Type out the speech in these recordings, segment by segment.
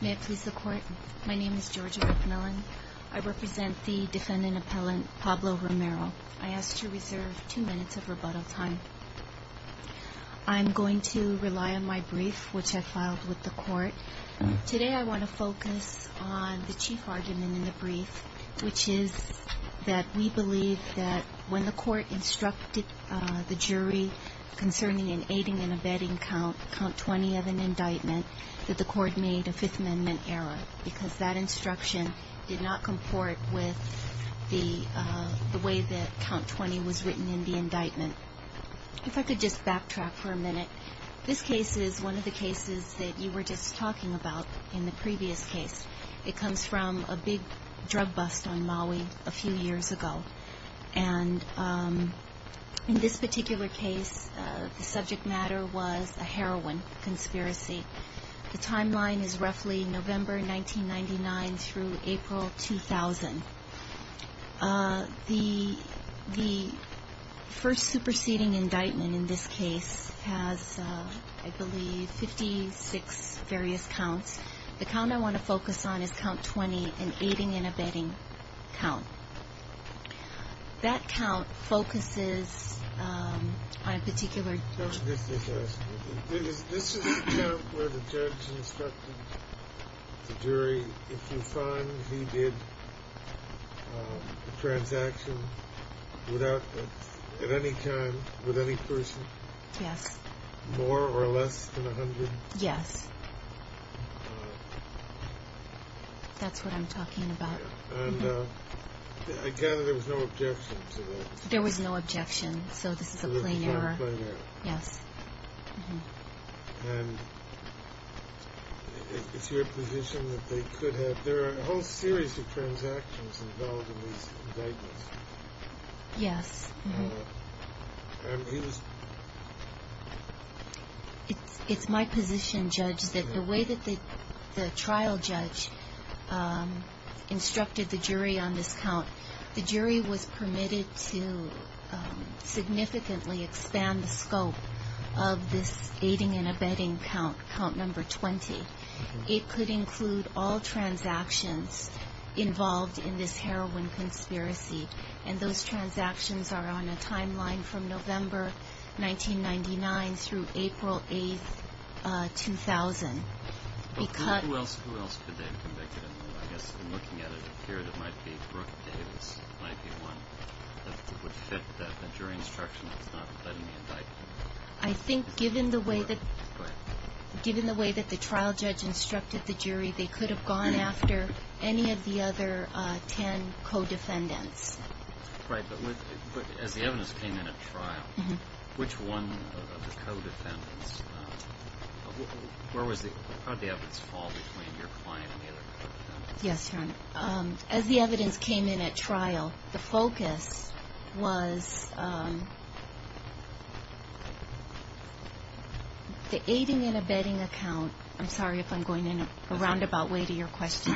May it please the court, my name is Georgia McMillan. I represent the defendant appellant Pablo Romero. I ask to reserve two minutes of rebuttal time. I'm going to rely on my Today I want to focus on the chief argument in the brief, which is that we believe that when the court instructed the jury concerning an aiding and abetting count, count 20 of an indictment, that the court made a Fifth Amendment error, because that instruction did not comport with the way that count 20 was written in the indictment. If I could just backtrack for a minute. This case is one of the cases that you were just talking about in the previous case. It comes from a big drug bust on Maui a few years ago. And in this particular case, the subject matter was a heroin conspiracy. The timeline is roughly November 1999 through April 2000. The first superseding indictment in this case has, I believe, 56 various counts. The count I want to focus on is count 20, an aiding and abetting count. That count focuses on a particular This is the count where the judge instructed the jury, if you find he did a transaction at any time with any person? Yes. More or less than 100? Yes. That's what I'm talking about. And I gather there was no objection to that. There was no objection. So this is a plain error. Yes. And it's your position that they could have, there are a whole series of transactions involved in these indictments. Yes. And he was. It's my position, Judge, that the way that the trial judge instructed the jury on this count, the jury was permitted to significantly expand the scope of this aiding and abetting count, count number 20. It could include all transactions involved in this heroin conspiracy. And those transactions are on a timeline from November 1999 through April 8, 2000. Who else could they have convicted? I guess looking at it here, it might be Brooke Davis might be one that would fit the jury instruction that's not letting the indictment. I think given the way that the trial judge instructed the jury, they could have gone after any of the other 10 co-defendants. Right. But as the evidence came in at trial, which one of the co-defendants, where was the, how did the evidence fall between your client and the other co-defendants? Yes. As the evidence came in at trial, the focus was the aiding and abetting account. I'm sorry if I'm going in a roundabout way to your question.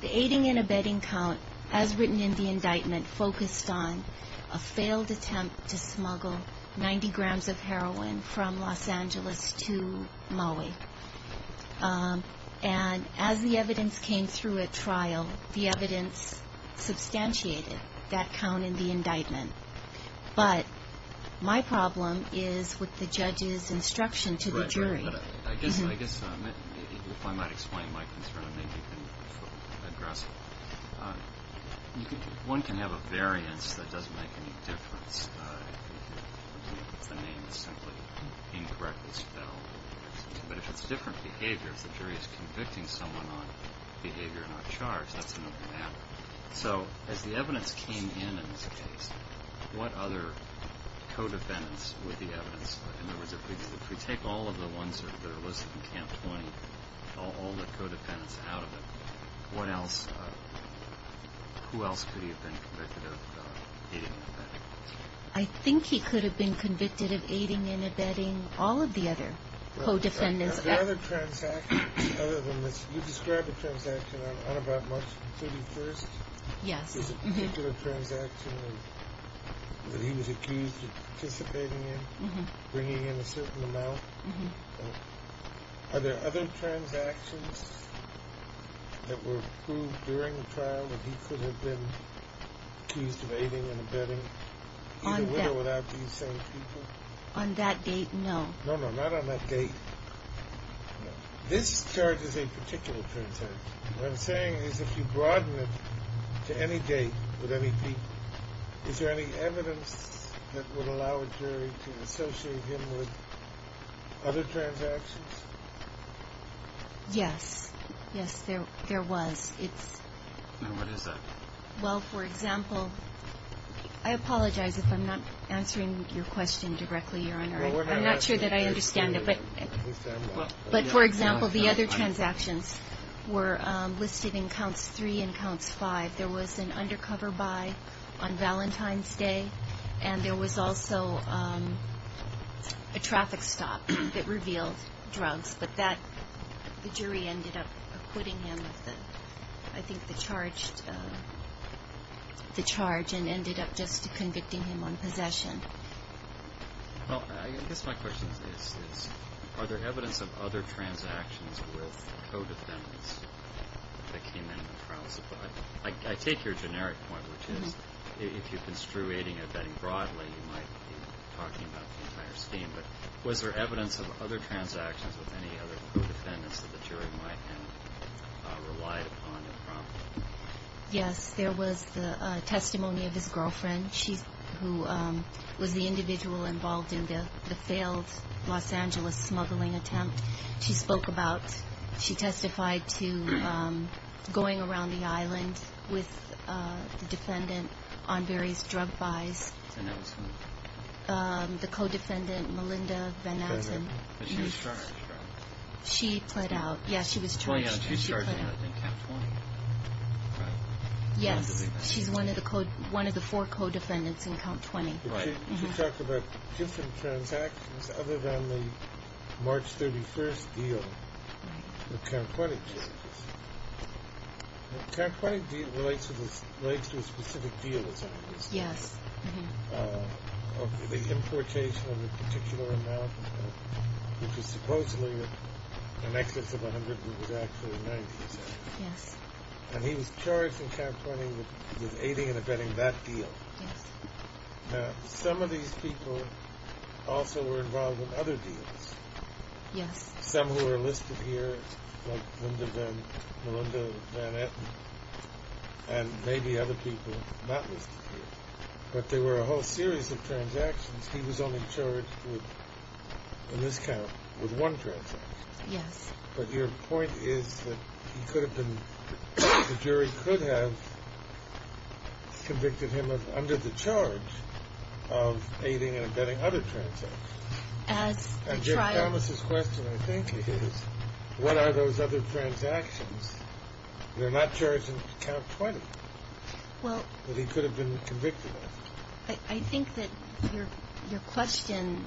The aiding and abetting account, as written in the indictment, focused on a failed attempt to smuggle 90 grams of heroin from Los Angeles to Maui. And as the evidence came through at trial, the evidence substantiated that count in the indictment. But my problem is with the judge's instruction to the jury. But I guess if I might explain my concern, maybe you can address it. One can have a variance that doesn't make any difference if the name is simply incorrectly spelled. But if it's different behavior, if the jury is convicting someone on behavior not charged, that's another matter. So as the evidence came in in this case, what other co-defendants with the evidence? In other words, if we take all of the ones that are listed in Camp 20, all the co-defendants out of it, what else, who else could he have been convicted of aiding and abetting? I think he could have been convicted of aiding and abetting all of the other co-defendants. Are there other transactions other than this? You described a transaction on about March 31st. Yes. This particular transaction that he was accused of participating in, bringing in a certain amount. Are there other transactions that were proved during the trial that he could have been accused of aiding and abetting, either with or without these same people? On that date, no. No, no, not on that date. This charge is a particular transaction. What I'm saying is if you broaden it to any date with any people, is there any evidence that would allow a jury to associate him with other transactions? Yes. Yes, there was. It's… And what is that? Well, for example, I apologize if I'm not answering your question directly, Your Honor. I'm not sure that I understand it. But for example, the other transactions were listed in Counts 3 and Counts 5. There was an undercover buy on Valentine's Day, and there was also a traffic stop that revealed drugs. But that, the jury ended up acquitting him of the, I think, the charge and ended up just convicting him on possession. Well, I guess my question is, are there evidence of other transactions with co-defendants that came in the trial? I take your generic point, which is if you're construing abetting broadly, you might be talking about the entire scheme. But was there evidence of other transactions with any other co-defendants that the jury might have relied upon improperly? Yes, there was the testimony of his girlfriend, who was the individual involved in the failed Los Angeles smuggling attempt. She spoke about, she testified to going around the island with the defendant on various drug buys. And that was who? The co-defendant, Melinda Van Atten. But she was charged, right? She pled out. Yes, she was charged. She pled out in count 20. Yes, she's one of the four co-defendants in count 20. Right. She talked about different transactions other than the March 31st deal, the count 20 case. The count 20 deal relates to a specific deal, as it were. Yes. The importation of a particular amount, which is supposedly an excess of 100, but was actually 90%. Yes. And he was charged in count 20 with aiding and abetting that deal. Yes. Now, some of these people also were involved in other deals. Yes. Some who are listed here, like Melinda Van Atten, and maybe other people not listed here. But there were a whole series of transactions. He was only charged in this count with one transaction. Yes. But your point is that he could have been, the jury could have convicted him of, under the charge of aiding and abetting other transactions. As the trial. And Jim Thomas' question, I think, is what are those other transactions? They're not charged in count 20. But he could have been convicted of. I think that your question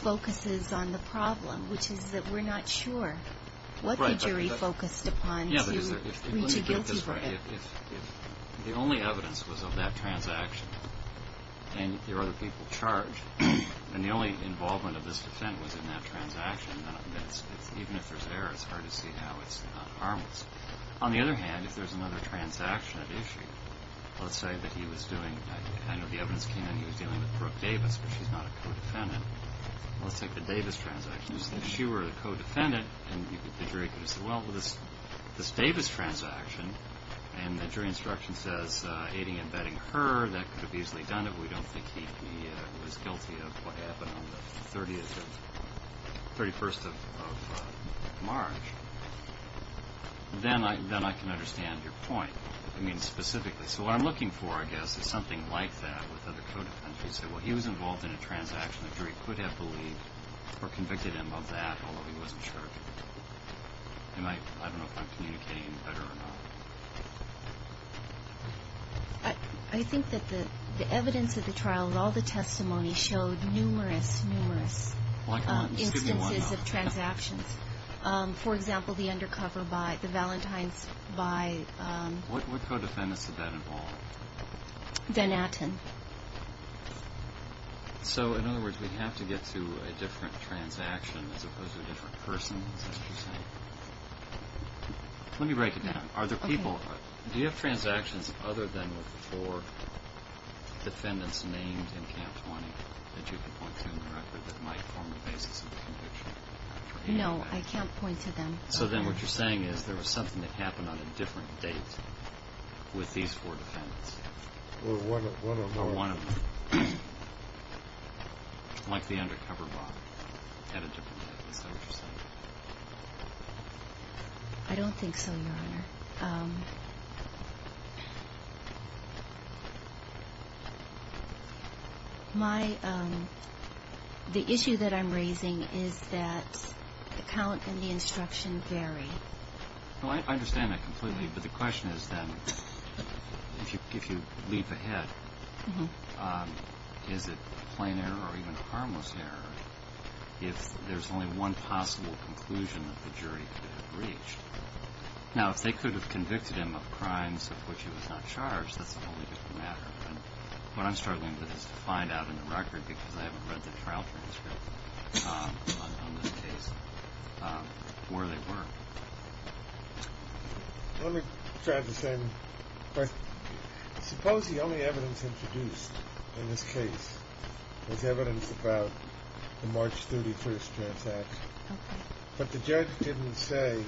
focuses on the problem, which is that we're not sure what the jury focused upon to reach a guilty verdict. The only evidence was of that transaction, and there were other people charged. And the only involvement of this defendant was in that transaction. Even if there's error, it's hard to see how it's harmless. On the other hand, if there's another transaction at issue, let's say that he was doing, I know the evidence came in he was dealing with Brooke Davis, but she's not a co-defendant. Let's take the Davis transaction. If she were a co-defendant, the jury could have said, well, this Davis transaction, and the jury instruction says aiding and abetting her, that could have easily done it. We don't think he was guilty of what happened on the 31st of March. Then I can understand your point. I mean, specifically. So what I'm looking for, I guess, is something like that with other co-defendants. You said, well, he was involved in a transaction. The jury could have believed or convicted him of that, although he wasn't sure. I don't know if I'm communicating any better or not. I think that the evidence of the trial and all the testimony showed numerous, numerous instances of transactions. For example, the undercover by the Valentines by. What co-defendants did that involve? Van Atten. So, in other words, we have to get to a different transaction as opposed to a different person. Let me break it down. Are there people, do you have transactions other than with the four defendants named in Camp 20 that you can point to in the record that might form the basis of the conviction? No, I can't point to them. So then what you're saying is there was something that happened on a different date with these four defendants. Or one of them. Or one of them. Like the undercover body had a different date. Is that what you're saying? I don't think so, Your Honor. Your Honor, the issue that I'm raising is that the count and the instruction vary. I understand that completely. But the question is then, if you leap ahead, is it plain error or even harmless error if there's only one possible conclusion that the jury could have reached? Now, if they could have convicted him of crimes of which he was not charged, that's a whole different matter. But what I'm struggling with is to find out in the record, because I haven't read the trial transcript on this case, where they were. Let me drive this in. Suppose the only evidence introduced in this case was evidence about the March 31st transaction. But the judge didn't say,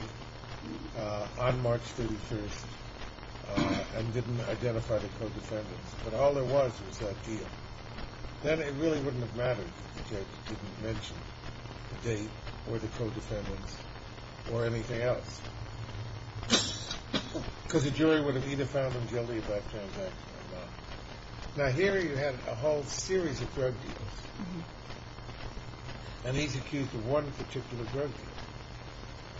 on March 31st, and didn't identify the co-defendants. But all there was was that deal. Then it really wouldn't have mattered if the judge didn't mention the date or the co-defendants or anything else. Because the jury would have either found him guilty of that transaction or not. Now, here you have a whole series of drug deals. And he's accused of one particular drug deal.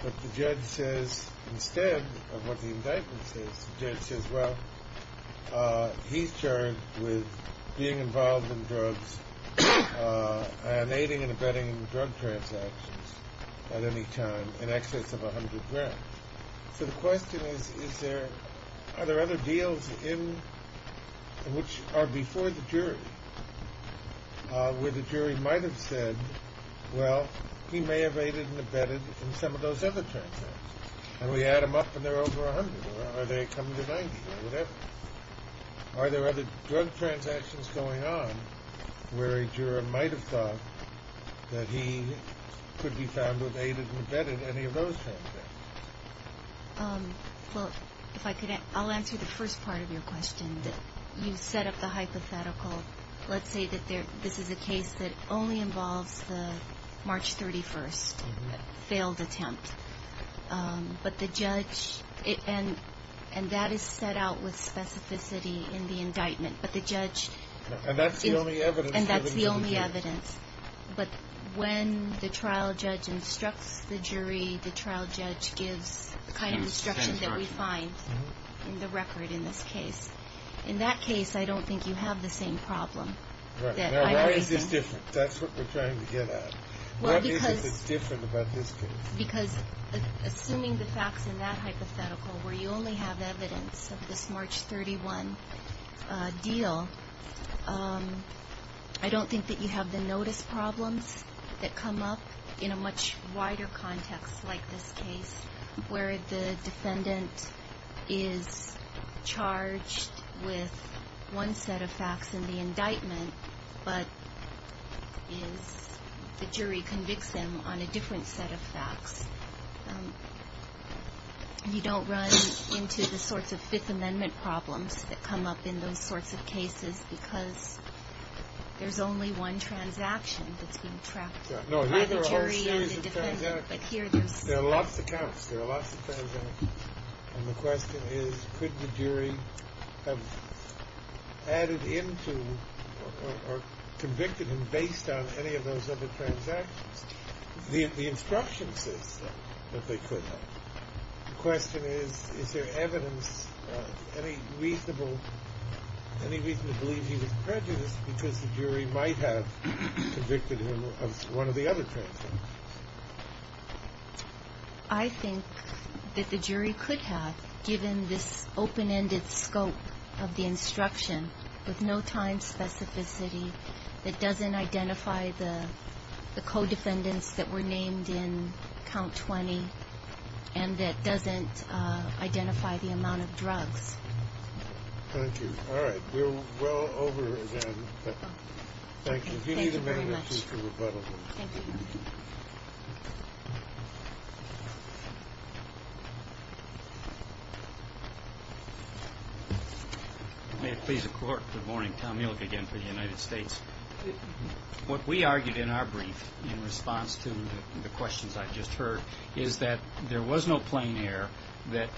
But the judge says, instead of what the indictment says, the judge says, well, he's charged with being involved in drugs and aiding and abetting drug transactions at any time in excess of 100 grand. So the question is, are there other deals which are before the jury? Where the jury might have said, well, he may have aided and abetted in some of those other transactions. And we add them up, and they're over 100. Are they coming to 90 or whatever? Are there other drug transactions going on where a juror might have thought that he could be found with aided and abetted in any of those transactions? Well, if I could, I'll answer the first part of your question. You set up the hypothetical. Let's say that this is a case that only involves the March 31st failed attempt. But the judge, and that is set out with specificity in the indictment. But the judge. And that's the only evidence. And that's the only evidence. But when the trial judge instructs the jury, the trial judge gives the kind of instruction that we find in the record in this case. In that case, I don't think you have the same problem. Right. Now, why is this different? That's what we're trying to get at. What is it that's different about this case? Because assuming the facts in that hypothetical where you only have evidence of this March 31 deal, I don't think that you have the notice problems that come up in a much wider context like this case where the defendant is charged with one set of facts in the indictment, but the jury convicts him on a different set of facts. You don't run into the sorts of Fifth Amendment problems that come up in those sorts of cases because there's only one transaction that's being tracked by the jury and the defendant. There are lots of counts. There are lots of transactions. And the question is, could the jury have added into or convicted him based on any of those other transactions? The instruction says so, that they could have. The question is, is there evidence, any reason to believe he was prejudiced because the jury might have convicted him of one of the other transactions? I think that the jury could have, given this open-ended scope of the instruction with no time specificity that doesn't identify the co-defendants that were named in Count 20 and that doesn't identify the amount of drugs. Thank you. All right. We're well over, again. Thank you. If you need a minute or two to rebuttal. Thank you. Thank you. May it please the Court. Good morning. Tom Ehrlich again for the United States. What we argued in our brief in response to the questions I just heard is that there was no plain error, that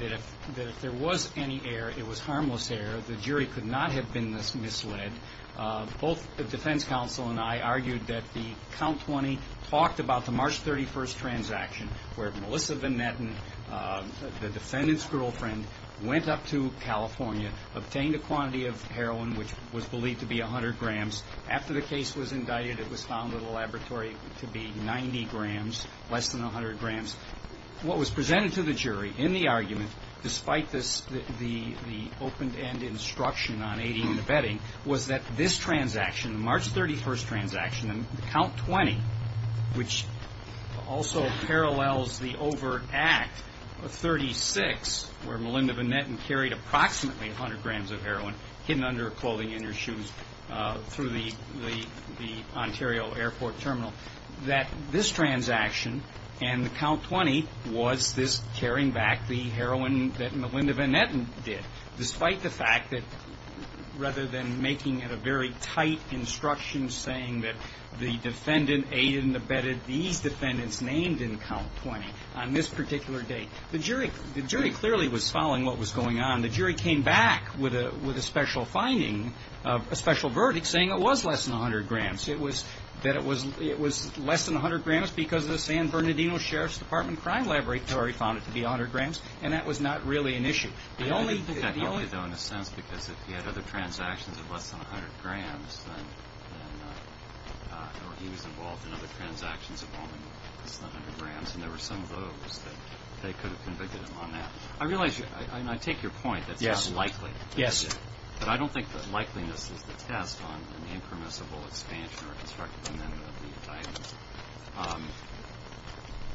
if there was any error, it was harmless error. The jury could not have been misled. Both the defense counsel and I argued that the Count 20 talked about the March 31st transaction where Melissa Van Etten, the defendant's girlfriend, went up to California, obtained a quantity of heroin which was believed to be 100 grams. After the case was indicted, it was found in the laboratory to be 90 grams, less than 100 grams. What was presented to the jury in the argument, despite the open-ended instruction on AD and abetting, was that this transaction, the March 31st transaction and Count 20, which also parallels the overt act of 36 where Melinda Van Etten carried approximately 100 grams of heroin hidden under her clothing and her shoes through the Ontario Airport terminal, that this transaction and the Count 20 was this carrying back the heroin that Melinda Van Etten did, despite the fact that rather than making it a very tight instruction saying that the defendant AD and abetted these defendants named in Count 20 on this particular date, the jury clearly was following what was going on. The jury came back with a special finding, a special verdict saying it was less than 100 grams, that it was less than 100 grams because the San Bernardino Sheriff's Department Crime Laboratory found it to be 100 grams, and that was not really an issue. The only... I didn't think that helped you, though, in a sense, because if he had other transactions of less than 100 grams, then, or he was involved in other transactions involving less than 100 grams, and there were some of those that they could have convicted him on that. I realize, and I take your point that it's not likely. Yes. But I don't think that likeliness is the test on the impermissible expansion or constructive amendment of the indictment.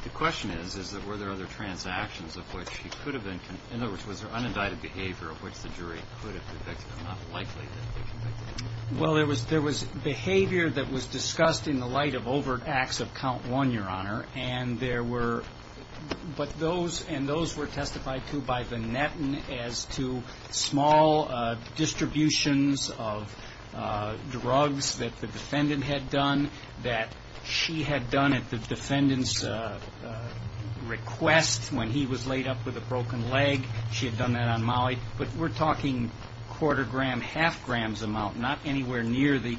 The question is, is that were there other transactions of which he could have been, in other words, was there unindicted behavior of which the jury could have convicted him, but not likely that they convicted him? Well, there was behavior that was discussed in the light of overt acts of Count 1, Your Honour, and there were... But those, and those were testified to by Van Etten as to small distributions of drugs that the defendant had done, that she had done at the defendant's request when he was laid up with a broken leg. She had done that on Molly. But we're talking quarter gram, half grams amount, not anywhere near the...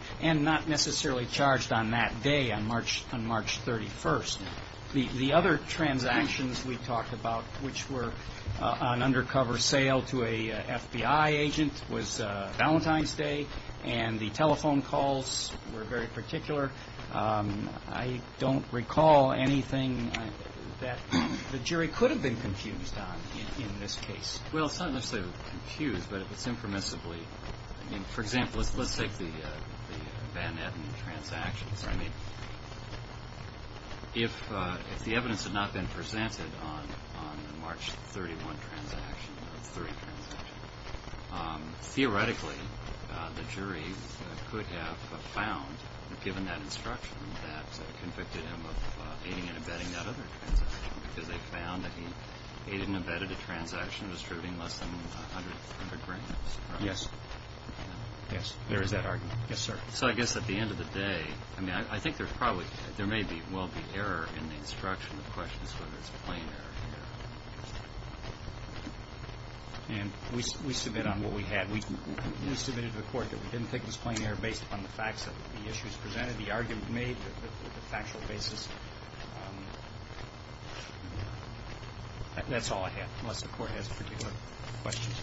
The other transactions we talked about, which were an undercover sale to a FBI agent, was Valentine's Day, and the telephone calls were very particular. I don't recall anything that the jury could have been confused on in this case. Well, it's not necessarily confused, but it's impermissibly... I mean, for example, let's take the Van Etten transactions. I mean, if the evidence had not been presented on the March 31 transaction, the March 3 transaction, theoretically the jury could have found, given that instruction, that convicted him of aiding and abetting that other transaction because they found that he aided and abetted a transaction distributing less than 100 grams. Yes. Yes, there is that argument. Yes, sir. So I guess at the end of the day, I mean, I think there's probably... There may well be error in the instruction of questions, whether it's plain error or not. And we submit on what we had. We submitted to the court that we didn't take this plain error based upon the facts of the issues presented, the argument made, the factual basis. That's all I have, unless the court has particular questions.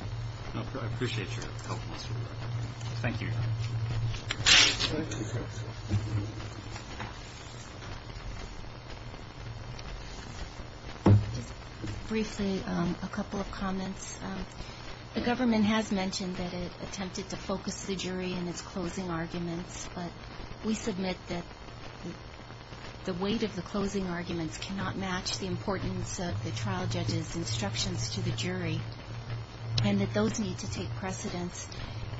I appreciate your help in this regard. Thank you. Just briefly a couple of comments. The government has mentioned that it attempted to focus the jury in its closing arguments, but we submit that the weight of the closing arguments cannot match the importance of the trial judge's instructions to the jury and that those need to take precedence.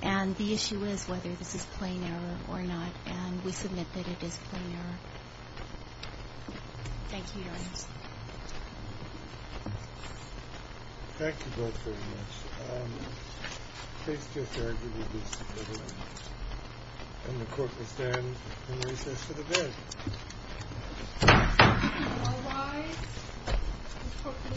And the issue is whether this is plain error or not. And we submit that it is plain error. Thank you, Your Honor. Thank you both very much. Please just argue with each other. And the court will stand in recess to the vote. All rise. The court for the second time adjourns.